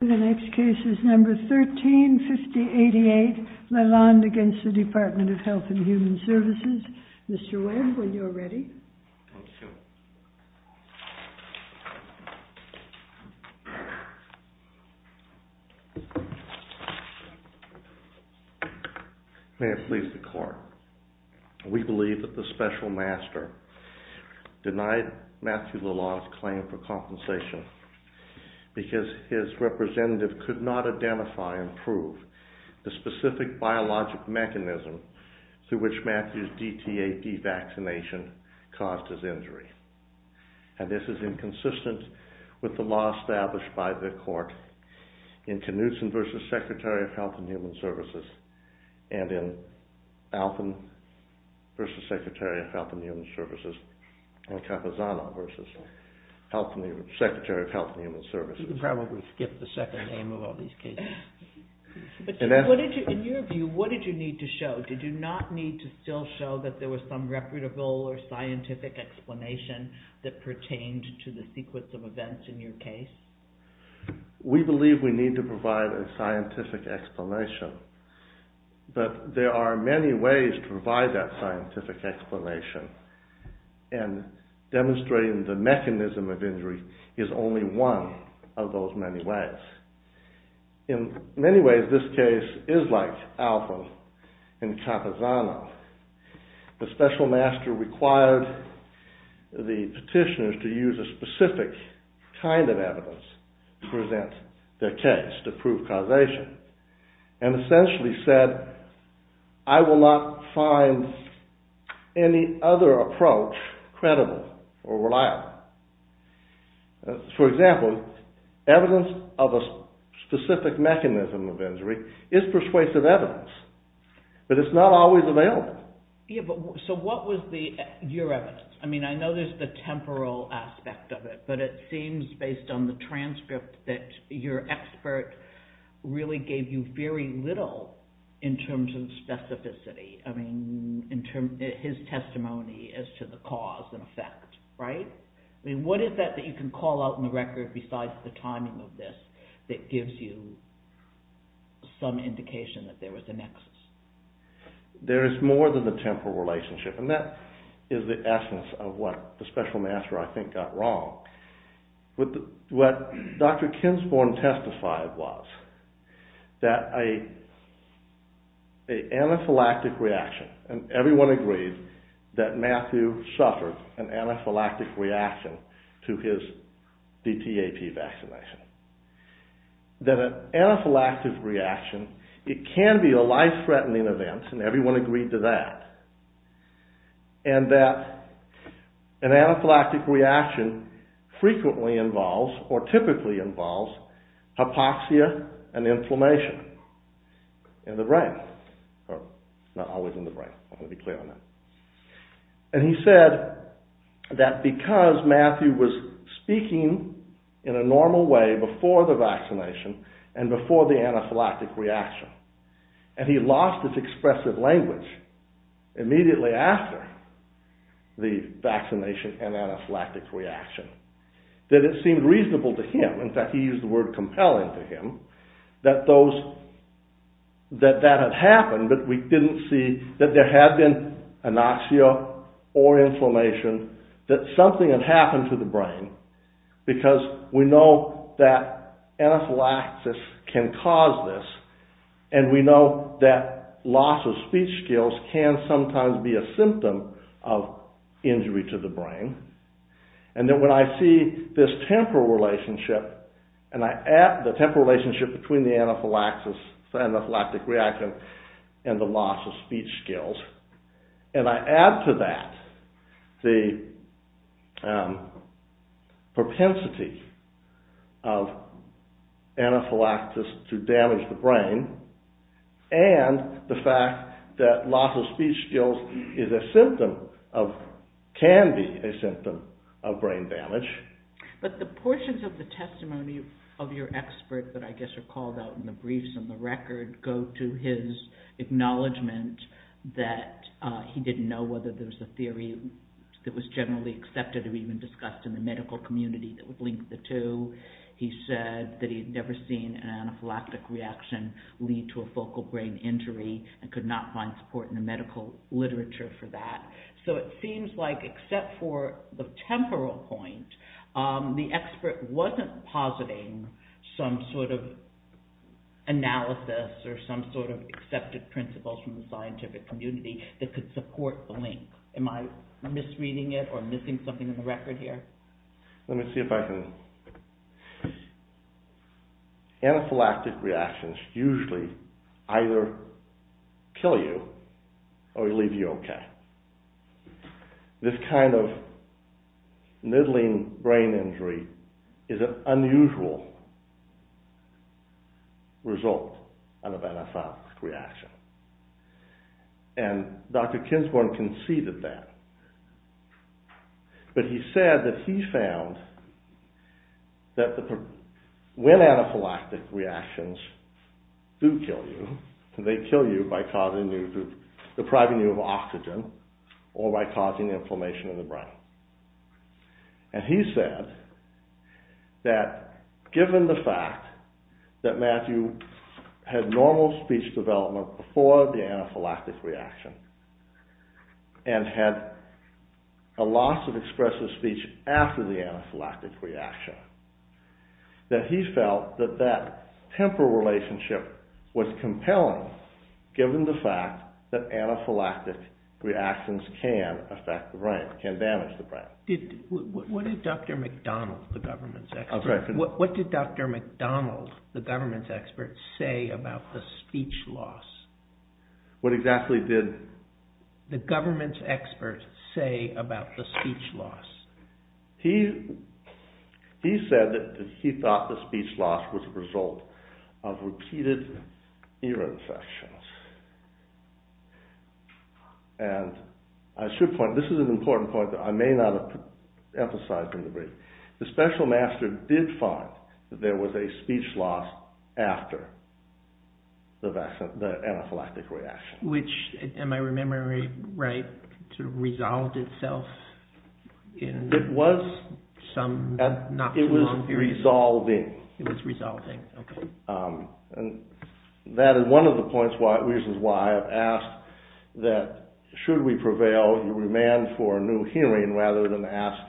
The next case is number 135088, Lalonde v. Department of Health and Human Services. Mr. Webb, when you're ready. Thank you. May it please the Court. We believe that the Special Master denied Matthew Lalonde's claim for compensation because his representative could not identify and prove the specific biologic mechanism through which Matthew's DTAD vaccination caused his injury. And this is inconsistent with the law established by the Court in Knutson v. Secretary of Health and Human Services and in Alton v. Secretary of Health and Human Services and Capazano v. Secretary of Health and Human Services. You can probably skip the second name of all these cases. In your view, what did you need to show? Did you not need to still show that there was some reputable or scientific explanation that pertained to the sequence of events in your case? We believe we need to provide a scientific explanation, but there are many ways to provide that scientific explanation and demonstrating the mechanism of injury is only one of those many ways. In many ways, this case is like Alton and Capazano. The Special Master required the petitioners to use a specific kind of evidence to present their case to prove causation. And essentially said, I will not find any other approach credible or reliable. For example, evidence of a specific mechanism of injury is persuasive evidence, but it's not always available. So what was your evidence? I mean, I know there's the temporal aspect of it, but it seems based on the transcript that your expert really gave you very little in terms of specificity. I mean, his testimony as to the cause and effect, right? I mean, what is that that you can call out in the record besides the timing of this that gives you some indication that there was a nexus? There is more than the temporal relationship, and that is the essence of what the Special Master, I think, got wrong. What Dr. Kinsporn testified was that an anaphylactic reaction, and everyone agreed that Matthew suffered an anaphylactic reaction to his DTAP vaccination, that an anaphylactic reaction, it can be a life-threatening event, and everyone agreed to that, and that an anaphylactic reaction frequently involves or typically involves hypoxia and inflammation in the brain. Not always in the brain, I want to be clear on that. And he said that because Matthew was speaking in a normal way before the vaccination and before the anaphylactic reaction, and he lost his expressive language immediately after the vaccination and anaphylactic reaction, that it seemed reasonable to him, in fact he used the word compelling to him, that that had happened, but we didn't see that there had been anoxia or inflammation, because we know that anaphylaxis can cause this, and we know that loss of speech skills can sometimes be a symptom of injury to the brain, and that when I see this temporal relationship, and I add the temporal relationship between the anaphylactic reaction and the loss of speech skills, and I add to that the propensity of anaphylaxis to damage the brain, and the fact that loss of speech skills can be a symptom of brain damage. But the portions of the testimony of your expert that I guess are called out in the briefs and the record go to his acknowledgment that he didn't know whether there was a theory that was generally accepted or even discussed in the medical community that would link the two. He said that he had never seen an anaphylactic reaction lead to a focal brain injury and could not find support in the medical literature for that. So it seems like, except for the temporal point, the expert wasn't positing some sort of analysis or some sort of accepted principles from the scientific community that could support the link. Am I misreading it or missing something in the record here? Let me see if I can... Anaphylactic reactions usually either kill you or leave you okay. This kind of middling brain injury is an unusual result of an anaphylactic reaction. And Dr. Kinsborn conceded that. But he said that he found that when anaphylactic reactions do kill you, they kill you by depriving you of oxygen or by causing inflammation in the brain. And he said that given the fact that Matthew had normal speech development before the anaphylactic reaction and had a loss of expressive speech after the anaphylactic reaction, that he felt that that temporal relationship was compelling given the fact that anaphylactic reactions can affect the brain, can damage the brain. What did Dr. McDonald, the government's expert, say about the speech loss? What exactly did the government's expert say about the speech loss? He said that he thought the speech loss was a result of repeated ear infections. And I should point out, this is an important point that I may not have emphasized in the brief. The special master did find that there was a speech loss after the anaphylactic reaction. Which, am I remembering right, sort of resolved itself in some not-too-long period? It was resolving. It was resolving, okay. And that is one of the reasons why I've asked that, should we prevail and remand for a new hearing rather than ask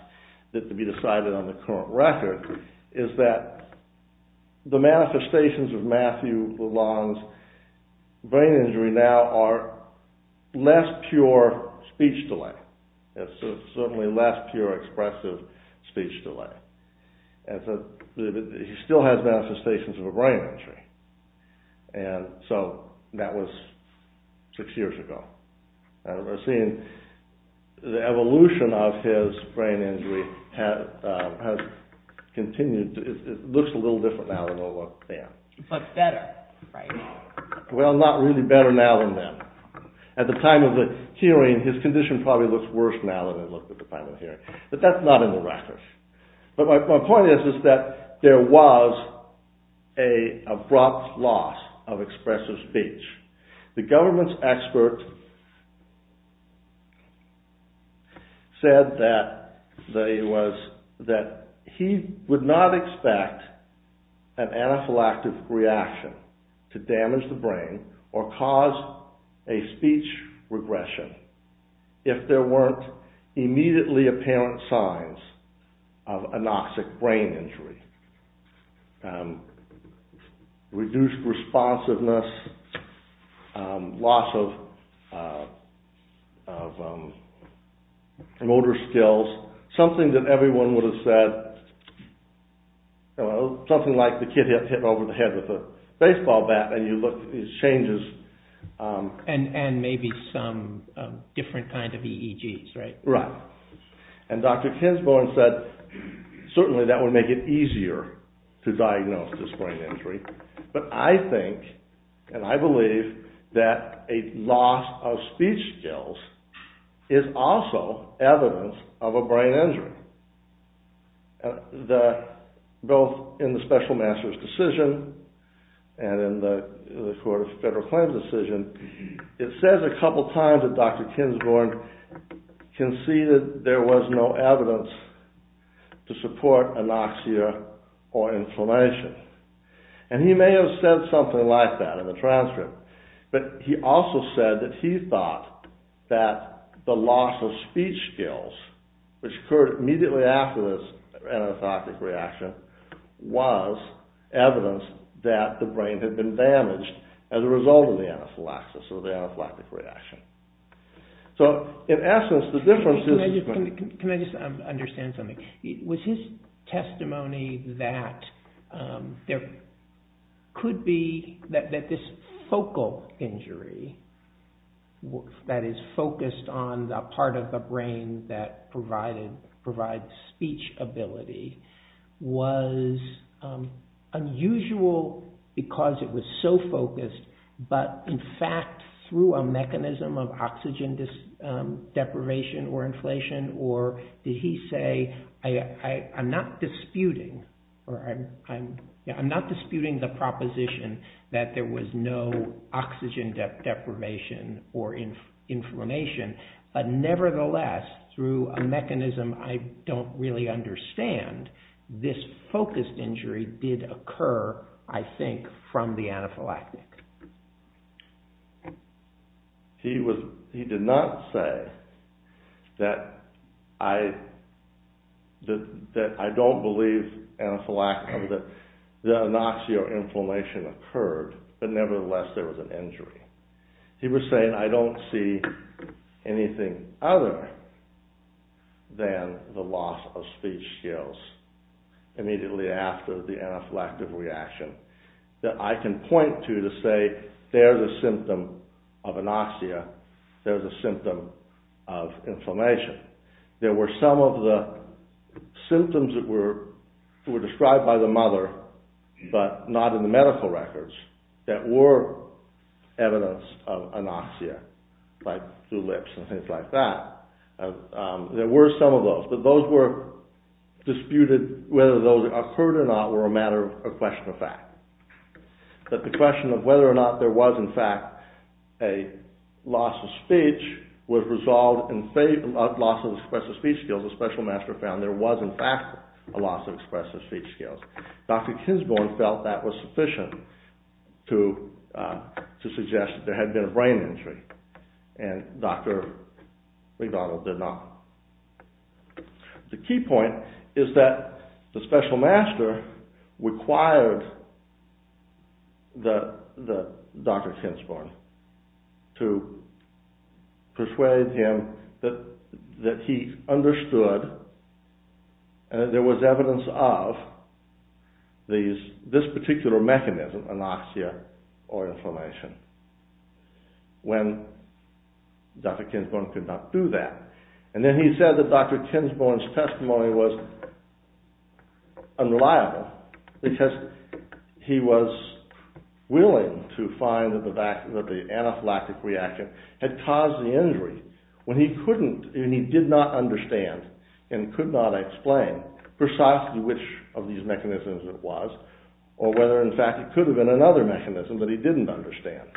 it to be decided on the current record, is that the manifestations of Matthew Lalonde's brain injury now are less pure speech delay. It's certainly less pure expressive speech delay. He still has manifestations of a brain injury. And so, that was six years ago. And we're seeing the evolution of his brain injury has continued. It looks a little different now than it looked then. But better, right? Well, not really better now than then. At the time of the hearing, his condition probably looks worse now than it looked at the time of the hearing. But that's not in the record. But my point is that there was an abrupt loss of expressive speech. The government's expert said that he would not expect an anaphylactic reaction to damage the brain or cause a speech regression if there weren't immediately apparent signs of anoxic brain injury. Reduced responsiveness. Loss of motor skills. Something that everyone would have said, something like the kid hitting over the head with a baseball bat and you look and it changes. And maybe some different kind of EEGs, right? Right. And Dr. Kinsborn said certainly that would make it easier to diagnose this brain injury. But I think and I believe that a loss of speech skills is also evidence of a brain injury. Both in the special master's decision and in the court of federal claims decision, it says a couple times that Dr. Kinsborn conceded there was no evidence to support anoxia or inflammation. And he may have said something like that in the transcript. But he also said that he thought that the loss of speech skills, which occurred immediately after this anaphylactic reaction, was evidence that the brain had been damaged as a result of the anaphylaxis or the anaphylactic reaction. So, in essence, the difference is... Can I just understand something? Was his testimony that there could be... That this focal injury that is focused on the part of the brain that provides speech ability was unusual because it was so focused, but in fact through a mechanism of oxygen deprivation or inflation? Or did he say, I'm not disputing the proposition that there was no oxygen deprivation or inflammation, but nevertheless through a mechanism I don't really understand, this focused injury did occur, I think, from the anaphylactic. He did not say that I don't believe the anoxia or inflammation occurred, but nevertheless there was an injury. He was saying I don't see anything other than the loss of speech skills immediately after the anaphylactic reaction that I can point to to say there's a symptom of anoxia, there's a symptom of inflammation. There were some of the symptoms that were described by the mother, but not in the medical records, that were evidence of anoxia, like through lips and things like that. There were some of those, but that those were disputed, whether those occurred or not, were a matter of question of fact. But the question of whether or not there was in fact a loss of speech was resolved in favor of loss of expressive speech skills. The special master found there was in fact a loss of expressive speech skills. Dr. Kinsborn felt that was sufficient to suggest that there had been a brain injury, and Dr. McDonald did not. The key point is that the special master required Dr. Kinsborn to persuade him that he understood that there was evidence of this particular mechanism, anoxia or inflammation. When Dr. Kinsborn could not do that. And then he said that Dr. Kinsborn's testimony was unreliable, because he was willing to find that the anaphylactic reaction had caused the injury, when he couldn't, and he did not understand and could not explain precisely which of these mechanisms it was, or whether in fact it could have been another mechanism that he didn't understand.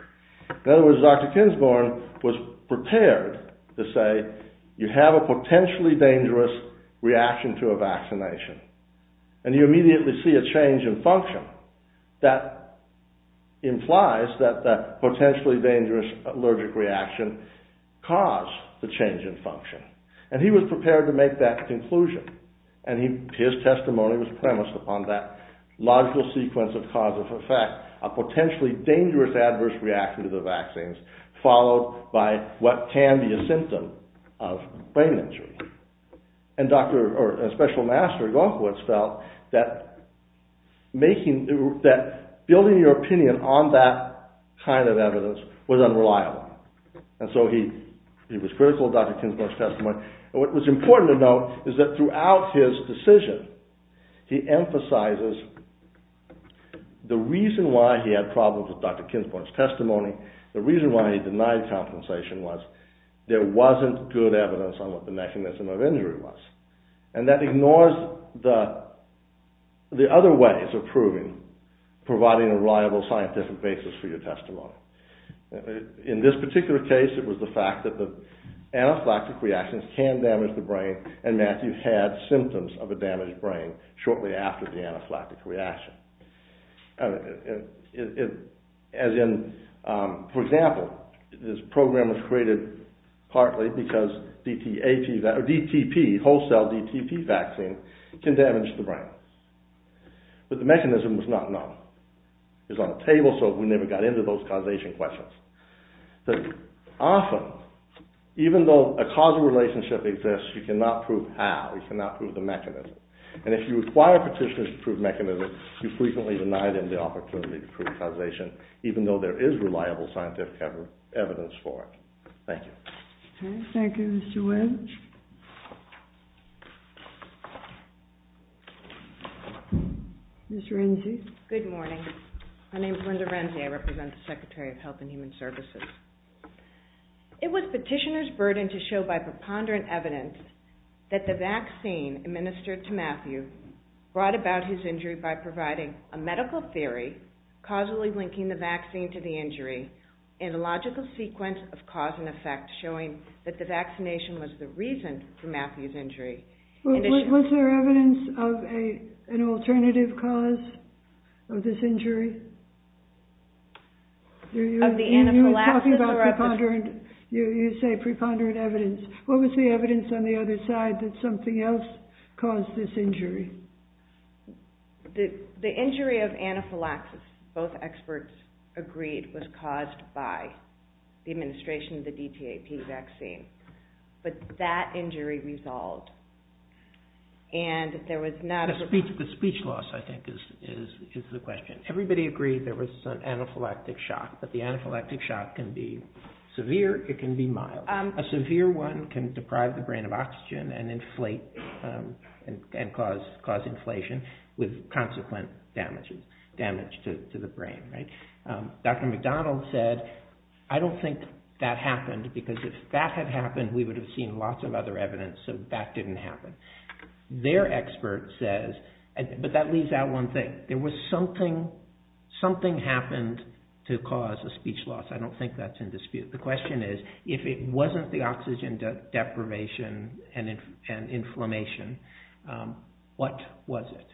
In other words, Dr. Kinsborn was prepared to say, you have a potentially dangerous reaction to a vaccination, and you immediately see a change in function. That implies that that potentially dangerous allergic reaction caused the change in function. And he was prepared to make that conclusion, and his testimony was premised upon that logical sequence of cause and effect, a potentially dangerous adverse reaction to the vaccines, followed by what can be a symptom of brain injury. And Dr. Kinsborn felt that building your opinion on that kind of evidence was unreliable. And so he was critical of Dr. Kinsborn's testimony. And what was important to note is that throughout his decision, he emphasizes the reason why he had problems with Dr. Kinsborn's testimony, the reason why he denied compensation was there wasn't good evidence on what the mechanism of injury was. And that ignores the other ways of proving, providing a reliable scientific basis for your testimony. In this particular case, it was the fact that the anaphylactic reactions can damage the brain, and Matthew had symptoms of a damaged brain shortly after the anaphylactic reaction. As in, for example, this program was created partly because DTP, whole cell DTP vaccine, can damage the brain. But the mechanism was not known. It was on the table, so we never got into those causation questions. But often, even though a causal relationship exists, you cannot prove how. You cannot prove the mechanism. And if you require petitioners to prove mechanisms, you frequently deny them the opportunity to prove causation, even though there is reliable scientific evidence for it. Thank you. Okay. Thank you, Mr. Webb. Thank you. Ms. Renzi. Good morning. My name is Linda Renzi. I represent the Secretary of Health and Human Services. It was petitioners' burden to show by preponderant evidence that the vaccine administered to Matthew brought about his injury by providing a medical theory causally linking the vaccine to the injury in a logical sequence of cause and effect, showing that the vaccination was the reason for Matthew's injury. Was there evidence of an alternative cause of this injury? Of the anaphylaxis? You're talking about preponderant. You say preponderant evidence. What was the evidence on the other side that something else caused this injury? The injury of anaphylaxis, both experts agreed, was caused by the administration of the DTAP vaccine. But that injury resolved. The speech loss, I think, is the question. Everybody agreed there was an anaphylactic shock, but the anaphylactic shock can be severe, it can be mild. A severe one can deprive the brain of oxygen and cause inflation, with consequent damage to the brain. Dr. McDonald said, I don't think that happened, because if that had happened we would have seen lots of other evidence, so that didn't happen. Their expert says, but that leaves out one thing, there was something, something happened to cause a speech loss. I don't think that's in dispute. The question is, if it wasn't the oxygen deprivation and inflammation, what was it?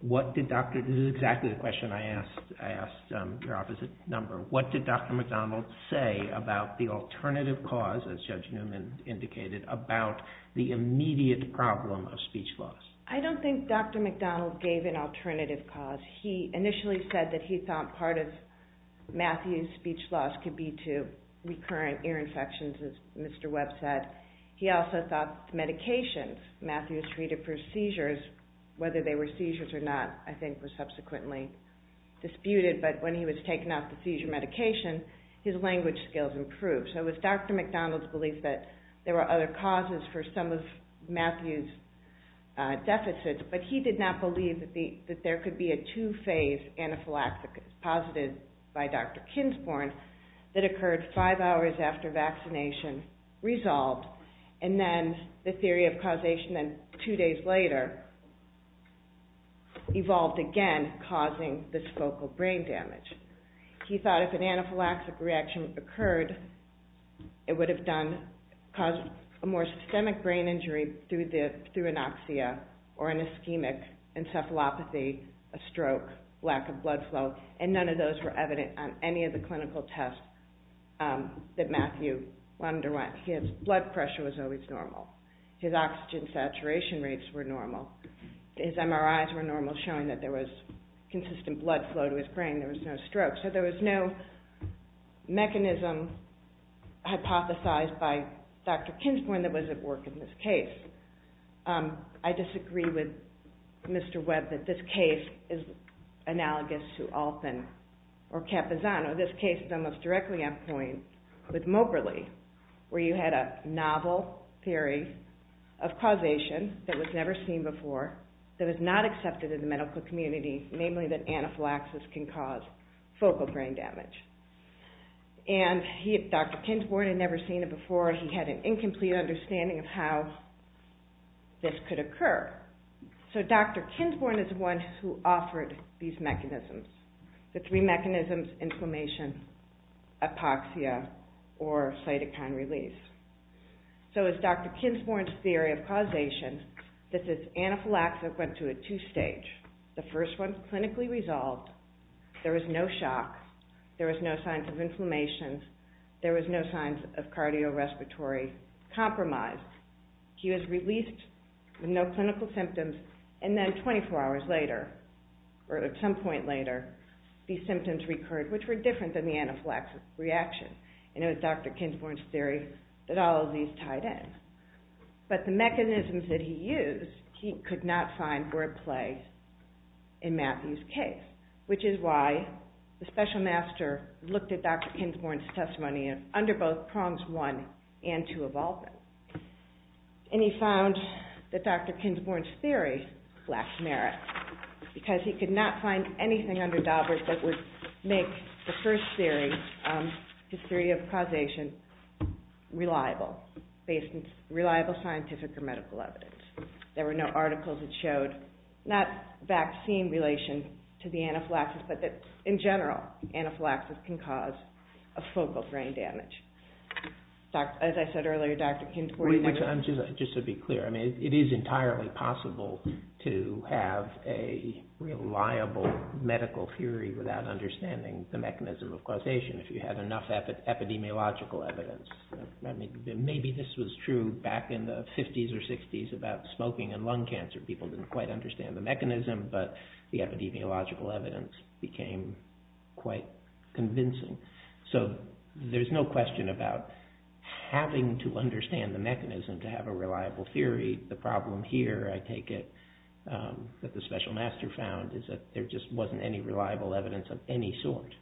This is exactly the question I asked your office at number. What did Dr. McDonald say about the alternative cause, as Judge Newman indicated, about the immediate problem of speech loss? I don't think Dr. McDonald gave an alternative cause. He initially said that he thought part of Matthew's speech loss could be to recurrent ear infections, as Mr. Webb said. He also thought medications. Matthew was treated for seizures. Whether they were seizures or not, I think, was subsequently disputed, but when he was taken off the seizure medication, his language skills improved. So it was Dr. McDonald's belief that there were other causes for some of Matthew's deficits, but he did not believe that there could be a two-phase anaphylaxis, posited by Dr. Kinsborn, that occurred five hours after vaccination resolved, and then the theory of causation two days later evolved again, causing this focal brain damage. He thought if an anaphylaxis reaction occurred, it would have caused a more systemic brain injury through anoxia or an ischemic encephalopathy, a stroke, lack of blood flow, and none of those were evident on any of the clinical tests that Matthew underwent. His blood pressure was always normal. His oxygen saturation rates were normal. His MRIs were normal, showing that there was consistent blood flow to his brain. There was no stroke. So there was no mechanism hypothesized by Dr. Kinsborn that was at work in this case. I disagree with Mr. Webb that this case is analogous to Alpen or Capizano. This case is almost directly on point with Moberly, where you had a novel theory of causation that was never seen before, that was not accepted in the medical community, namely that anaphylaxis can cause focal brain damage. And Dr. Kinsborn had never seen it before. He had an incomplete understanding of how this could occur. So Dr. Kinsborn is the one who offered these mechanisms, the three mechanisms, inflammation, apoxia, or cytokine release. So as Dr. Kinsborn's theory of causation, this anaphylaxis went through a two-stage. The first one was clinically resolved. There was no shock. There was no signs of inflammation. There was no signs of cardiorespiratory compromise. He was released with no clinical symptoms. And then 24 hours later, or at some point later, these symptoms recurred, which were different than the anaphylaxis reaction. And it was Dr. Kinsborn's theory that all of these tied in. But the mechanisms that he used he could not find were at play in Matthew's case, which is why the special master looked at Dr. Kinsborn's testimony under both prongs one and two of all of them. And he found that Dr. Kinsborn's theory lacked merit because he could not find anything under Daubert that would make the first theory, his theory of causation, reliable, based on reliable scientific or medical evidence. There were no articles that showed not vaccine relation to the anaphylaxis, but that in general anaphylaxis can cause a focal brain damage. As I said earlier, Dr. Kinsborn... Just to be clear, it is entirely possible to have a reliable medical theory without understanding the mechanism of causation if you have enough epidemiological evidence. Maybe this was true back in the 50s or 60s about smoking and lung cancer. People didn't quite understand the mechanism, but the epidemiological evidence became quite convincing. So there's no question about having to understand the mechanism to have a reliable theory. The problem here, I take it, that the special master found is that there just wasn't any reliable evidence of any sort.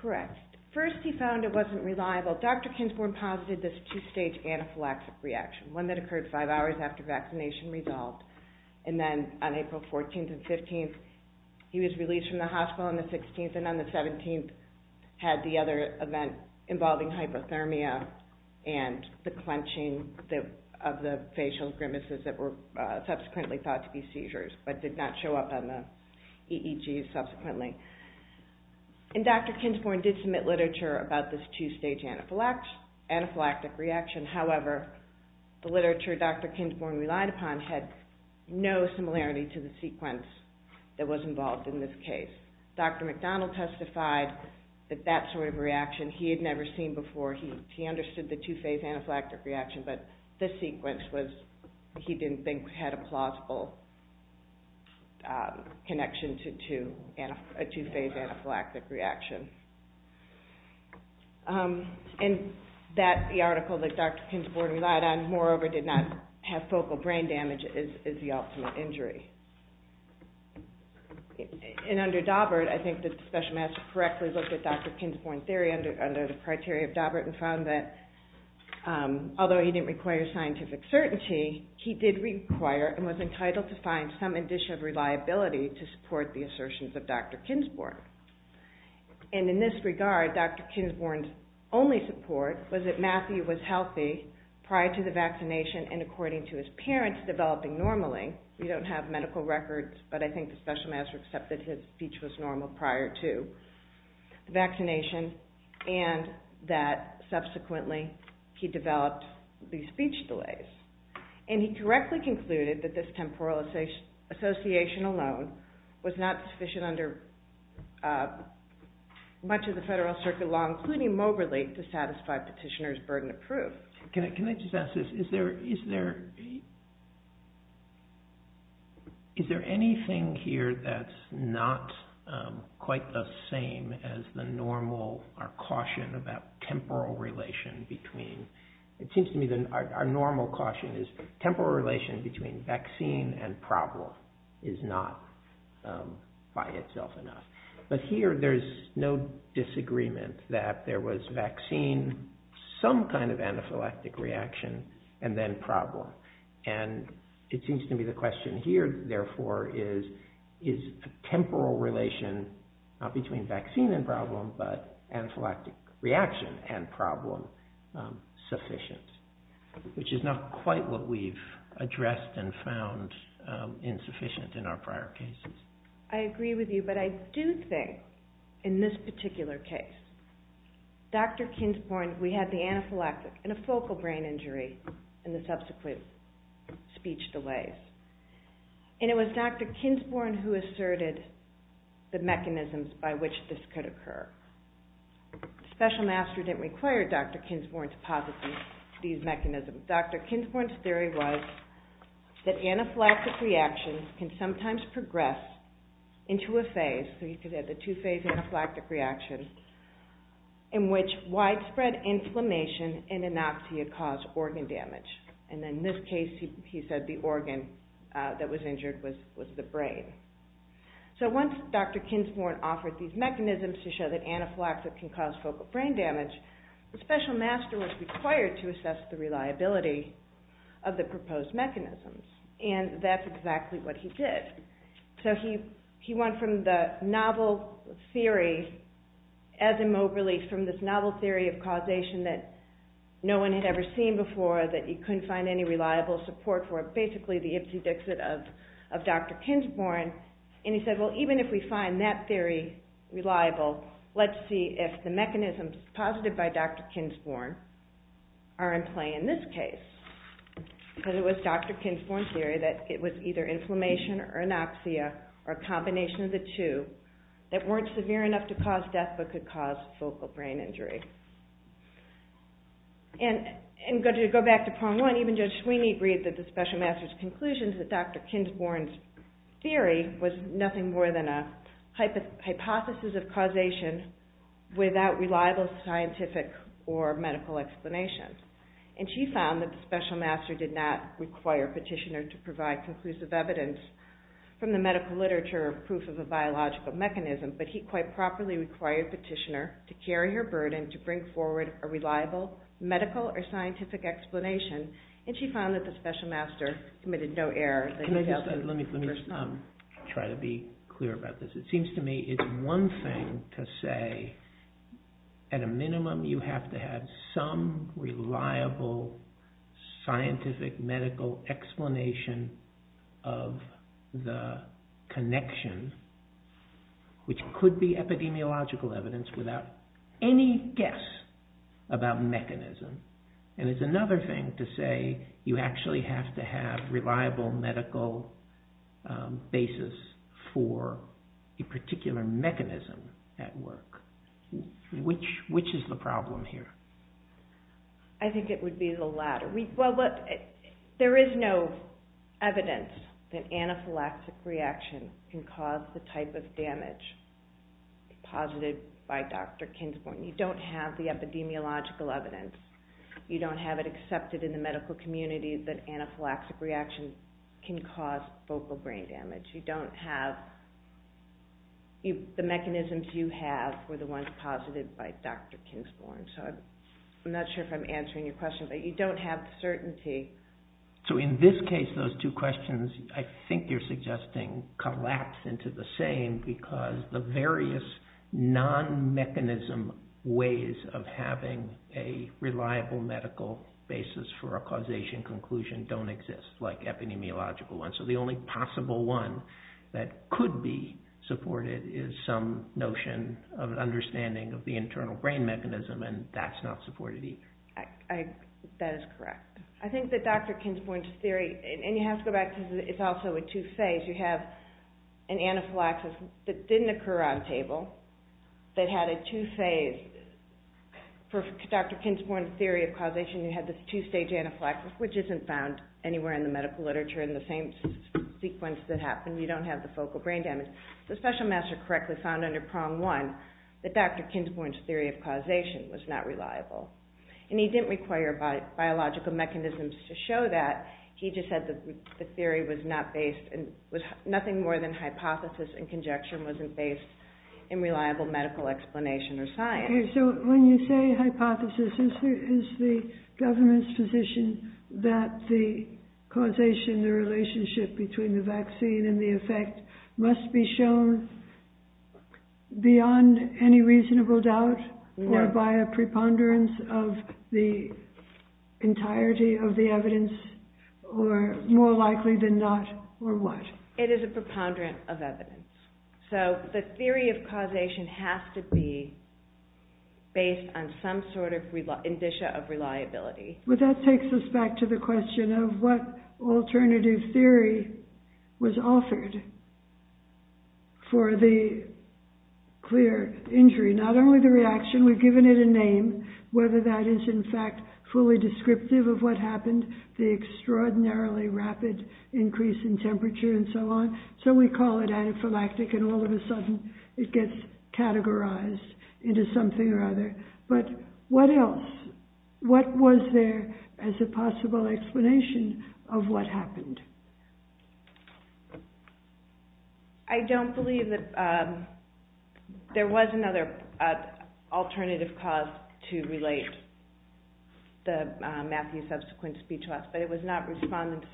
Correct. First he found it wasn't reliable. Dr. Kinsborn posited this two-stage anaphylaxis reaction, one that occurred five hours after vaccination resolved, and then on April 14th and 15th he was released from the hospital on the 16th, and on the 17th had the other event involving hypothermia and the clenching of the facial grimaces that were subsequently thought to be seizures but did not show up on the EEGs subsequently. And Dr. Kinsborn did submit literature about this two-stage anaphylactic reaction. However, the literature Dr. Kinsborn relied upon had no similarity to the sequence that was involved in this case. Dr. McDonald testified that that sort of reaction he had never seen before. He understood the two-phase anaphylactic reaction, but this sequence he didn't think had a plausible connection to a two-phase anaphylactic reaction. And that article that Dr. Kinsborn relied on, moreover did not have focal brain damage, is the ultimate injury. And under Daubert, I think that the special master correctly looked at Dr. Kinsborn's theory under the criteria of Daubert and found that although he didn't require scientific certainty, he did require and was entitled to find some addition of reliability to support the assertions of Dr. Kinsborn. And in this regard, Dr. Kinsborn's only support was that Matthew was healthy prior to the vaccination and according to his parents developing normally. We don't have medical records, but I think the special master accepted his speech was normal prior to. The vaccination and that subsequently he developed these speech delays. And he correctly concluded that this temporal association alone was not sufficient under much of the federal circuit law, including Moberly, to satisfy petitioner's burden of proof. Can I just ask this, is there anything here that's not quite the same as the normal, our caution about temporal relation between, it seems to me that our normal caution is temporal relation between vaccine and problem is not by itself enough. But here there's no disagreement that there was vaccine, some kind of anaphylactic reaction and then problem. And it seems to me the question here, therefore, is temporal relation between vaccine and problem, but anaphylactic reaction and problem sufficient, which is not quite what we've addressed and found insufficient in our prior cases. I agree with you, but I do think in this particular case, Dr. Kinsporn, we had the anaphylactic and a focal brain injury in the subsequent speech delays. And it was Dr. Kinsporn who asserted the mechanisms by which this could occur. Special master didn't require Dr. Kinsporn to posit these mechanisms. Dr. Kinsporn's theory was that anaphylactic reactions can sometimes progress into a phase, so you could have the two-phase anaphylactic reaction, in which widespread inflammation and anoxia cause organ damage. And in this case, he said the organ that was injured was the brain. So once Dr. Kinsporn offered these mechanisms to show that anaphylactic can cause focal brain damage, the special master was required to assess the reliability of the proposed mechanisms. And that's exactly what he did. So he went from the novel theory of causation that no one had ever seen before, that you couldn't find any reliable support for it, basically the Ipsy Dixit of Dr. Kinsporn. And he said, well, even if we find that theory reliable, let's see if the mechanisms posited by Dr. Kinsporn are in play in this case. But it was Dr. Kinsporn's theory that it was either inflammation or anoxia, or a combination of the two, that weren't severe enough to cause death, but could cause focal brain injury. And to go back to poem one, even Judge Sweeney agreed that the special master's conclusions that Dr. Kinsporn's theory was nothing more than a hypothesis of causation without reliable scientific or medical explanation. And she found that the special master did not require Petitioner to provide conclusive evidence from the medical literature of proof of a biological mechanism, but he quite properly required Petitioner to carry her burden, to bring forward a reliable medical or scientific explanation. And she found that the special master committed no error. Let me just try to be clear about this. It seems to me it's one thing to say, at a minimum you have to have some reliable scientific medical explanation of the connection, which could be epidemiological evidence without any guess about mechanism. And it's another thing to say you actually have to have reliable medical basis for a particular mechanism at work. Which is the problem here? I think it would be the latter. There is no evidence that anaphylactic reaction can cause the type of damage posited by Dr. Kinsporn. You don't have the epidemiological evidence. You don't have it accepted in the medical community that anaphylactic reaction can cause focal brain damage. You don't have... The mechanisms you have were the ones posited by Dr. Kinsporn. So I'm not sure if I'm answering your question, but you don't have certainty. So in this case those two questions I think you're suggesting collapse into the same because the various non-mechanism ways of having a reliable medical basis for a causation conclusion don't exist, like epidemiological ones. So the only possible one that could be supported is some notion of understanding of the internal brain mechanism, and that's not supported either. That is correct. I think that Dr. Kinsporn's theory... And you have to go back because it's also a two-phase. You have an anaphylaxis that didn't occur on table that had a two-phase. For Dr. Kinsporn's theory of causation you had this two-stage anaphylaxis, which isn't found anywhere in the medical literature in the same sequence that happened. You don't have the focal brain damage. The special master correctly found under prong one that Dr. Kinsporn's theory of causation was not reliable. And he didn't require biological mechanisms to show that. He just said the theory was not based... Nothing more than hypothesis and conjecture wasn't based in reliable medical explanation or science. So when you say hypothesis, is the government's position that the causation, the relationship between the vaccine and the effect, must be shown beyond any reasonable doubt or by a preponderance of the entirety of the evidence, or more likely than not, or what? It is a preponderance of evidence. So the theory of causation has to be based on some sort of indicia of reliability. That takes us back to the question of what alternative theory was offered for the clear injury. Not only the reaction, we've given it a name, whether that is in fact fully descriptive of what happened, the extraordinarily rapid increase in temperature and so on. So we call it anaphylactic and all of a sudden it gets categorized into something or other. But what else? What was there as a possible explanation of what happened? I don't believe that there was another alternative cause to relate Matthew's subsequent speech to us, but it was not respondents'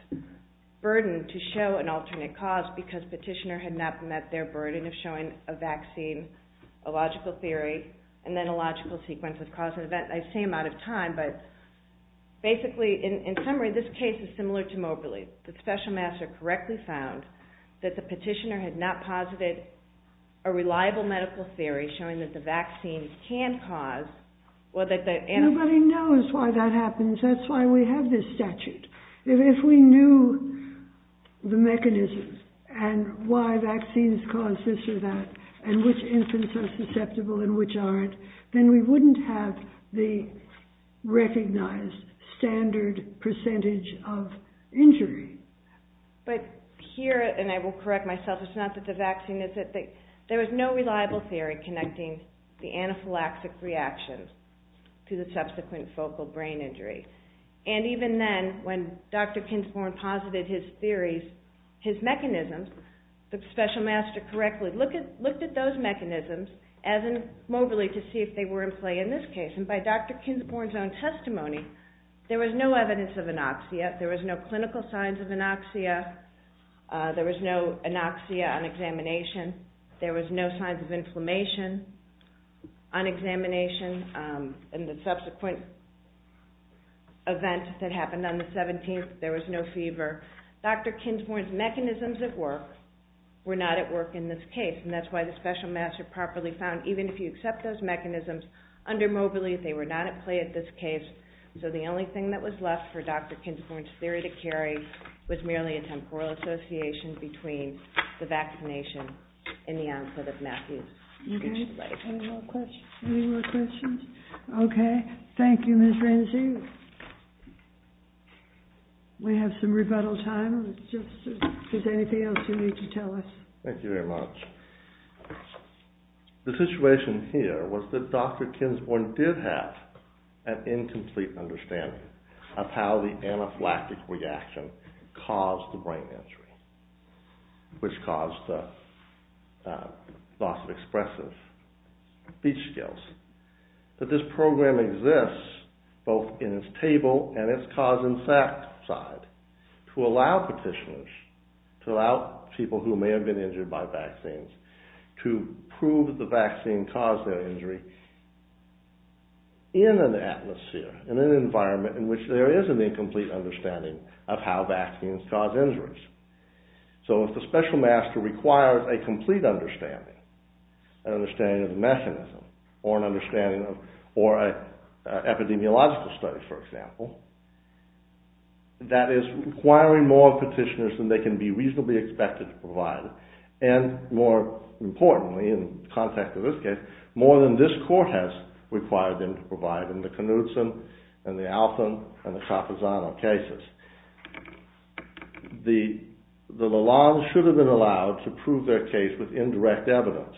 burden to show an alternate cause because petitioner had not met their burden of showing a vaccine, a logical theory, and then a logical sequence of causes. I've seen them out of time, but basically, in summary, this case is similar to Moberly's. The special master correctly found that the petitioner had not posited a reliable medical theory showing that the vaccine can cause... Nobody knows why that happens. That's why we have this statute. If we knew the mechanisms and why vaccines cause this or that and which infants are susceptible and which aren't, then we wouldn't have the recognized standard percentage of injury. But here, and I will correct myself, it's not that the vaccine is it. There was no reliable theory connecting the anaphylactic reaction to the subsequent focal brain injury. And even then, when Dr. Kinsmore posited his theories, his mechanisms, the special master correctly looked at those mechanisms, as in Moberly, to see if they were in play in this case. And by Dr. Kinsmore's own testimony, there was no evidence of anoxia. There was no clinical signs of anoxia. There was no anoxia on examination. There was no signs of inflammation on examination. In the subsequent event that happened on the 17th, there was no fever. Dr. Kinsmore's mechanisms at work were not at work in this case, and that's why the special master properly found, even if you accept those mechanisms under Moberly, they were not at play in this case. So the only thing that was left for Dr. Kinsmore's theory to carry was merely a temporal association between the vaccination and the output of Matthew's speech delay. Any more questions? Okay, thank you, Ms. Renzi. We have some rebuttal time. Is there anything else you need to tell us? Thank you very much. The situation here was that Dr. Kinsmore did have an incomplete understanding of how the anaphylactic reaction caused the brain injury, which caused the loss of expressive speech skills. But this program exists both in its table and its cause and effect side to allow petitioners, to allow people who may have been injured by vaccines, to prove the vaccine caused their injury in an atmosphere, in an environment in which there is an incomplete understanding of how vaccines cause injuries. So if the special master requires a complete understanding, an understanding of the mechanism or an understanding of, or an epidemiological study, for example, that is requiring more petitioners than they can be reasonably expected to provide, and more importantly, in the context of this case, more than this court has required them to provide in the Knudsen and the Alton and the Capozano cases, the law should have been allowed to prove their case with indirect evidence.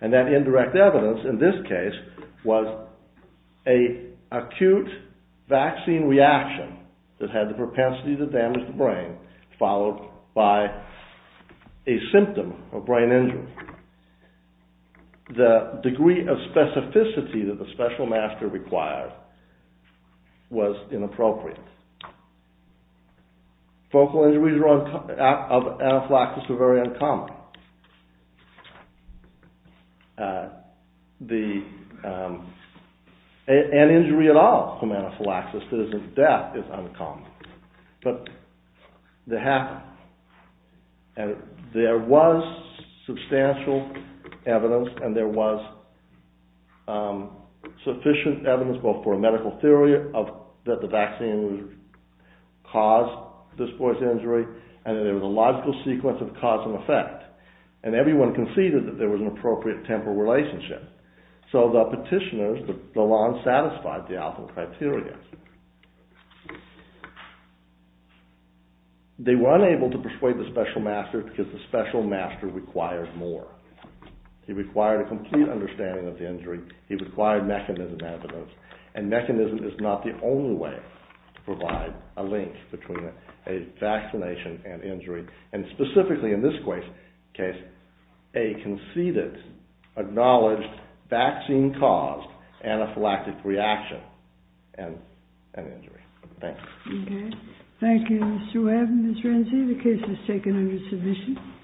And that indirect evidence, in this case, was an acute vaccine reaction that had the propensity to damage the brain, followed by a symptom of brain injury. The degree of specificity that the special master required was inappropriate. Focal injuries of anaphylactics were very uncommon. An injury at all from anaphylaxis that isn't death is uncommon. But they happened. And there was substantial evidence, and there was sufficient evidence both for a medical theory that the vaccine caused this boy's injury, and there was a logical sequence of cause and effect. And everyone conceded that there was an appropriate temporal relationship. So the petitioners, the law, satisfied the Alton criteria. They were unable to persuade the special master because the special master required more. He required a complete understanding of the injury. He required mechanism evidence. And mechanism is not the only way to provide a link between a vaccination and injury. And specifically in this case, a conceded, acknowledged, vaccine-caused anaphylactic reaction and injury. Thank you. Okay. Thank you, Mr. Webb and Ms. Renzi. The case is taken under submission.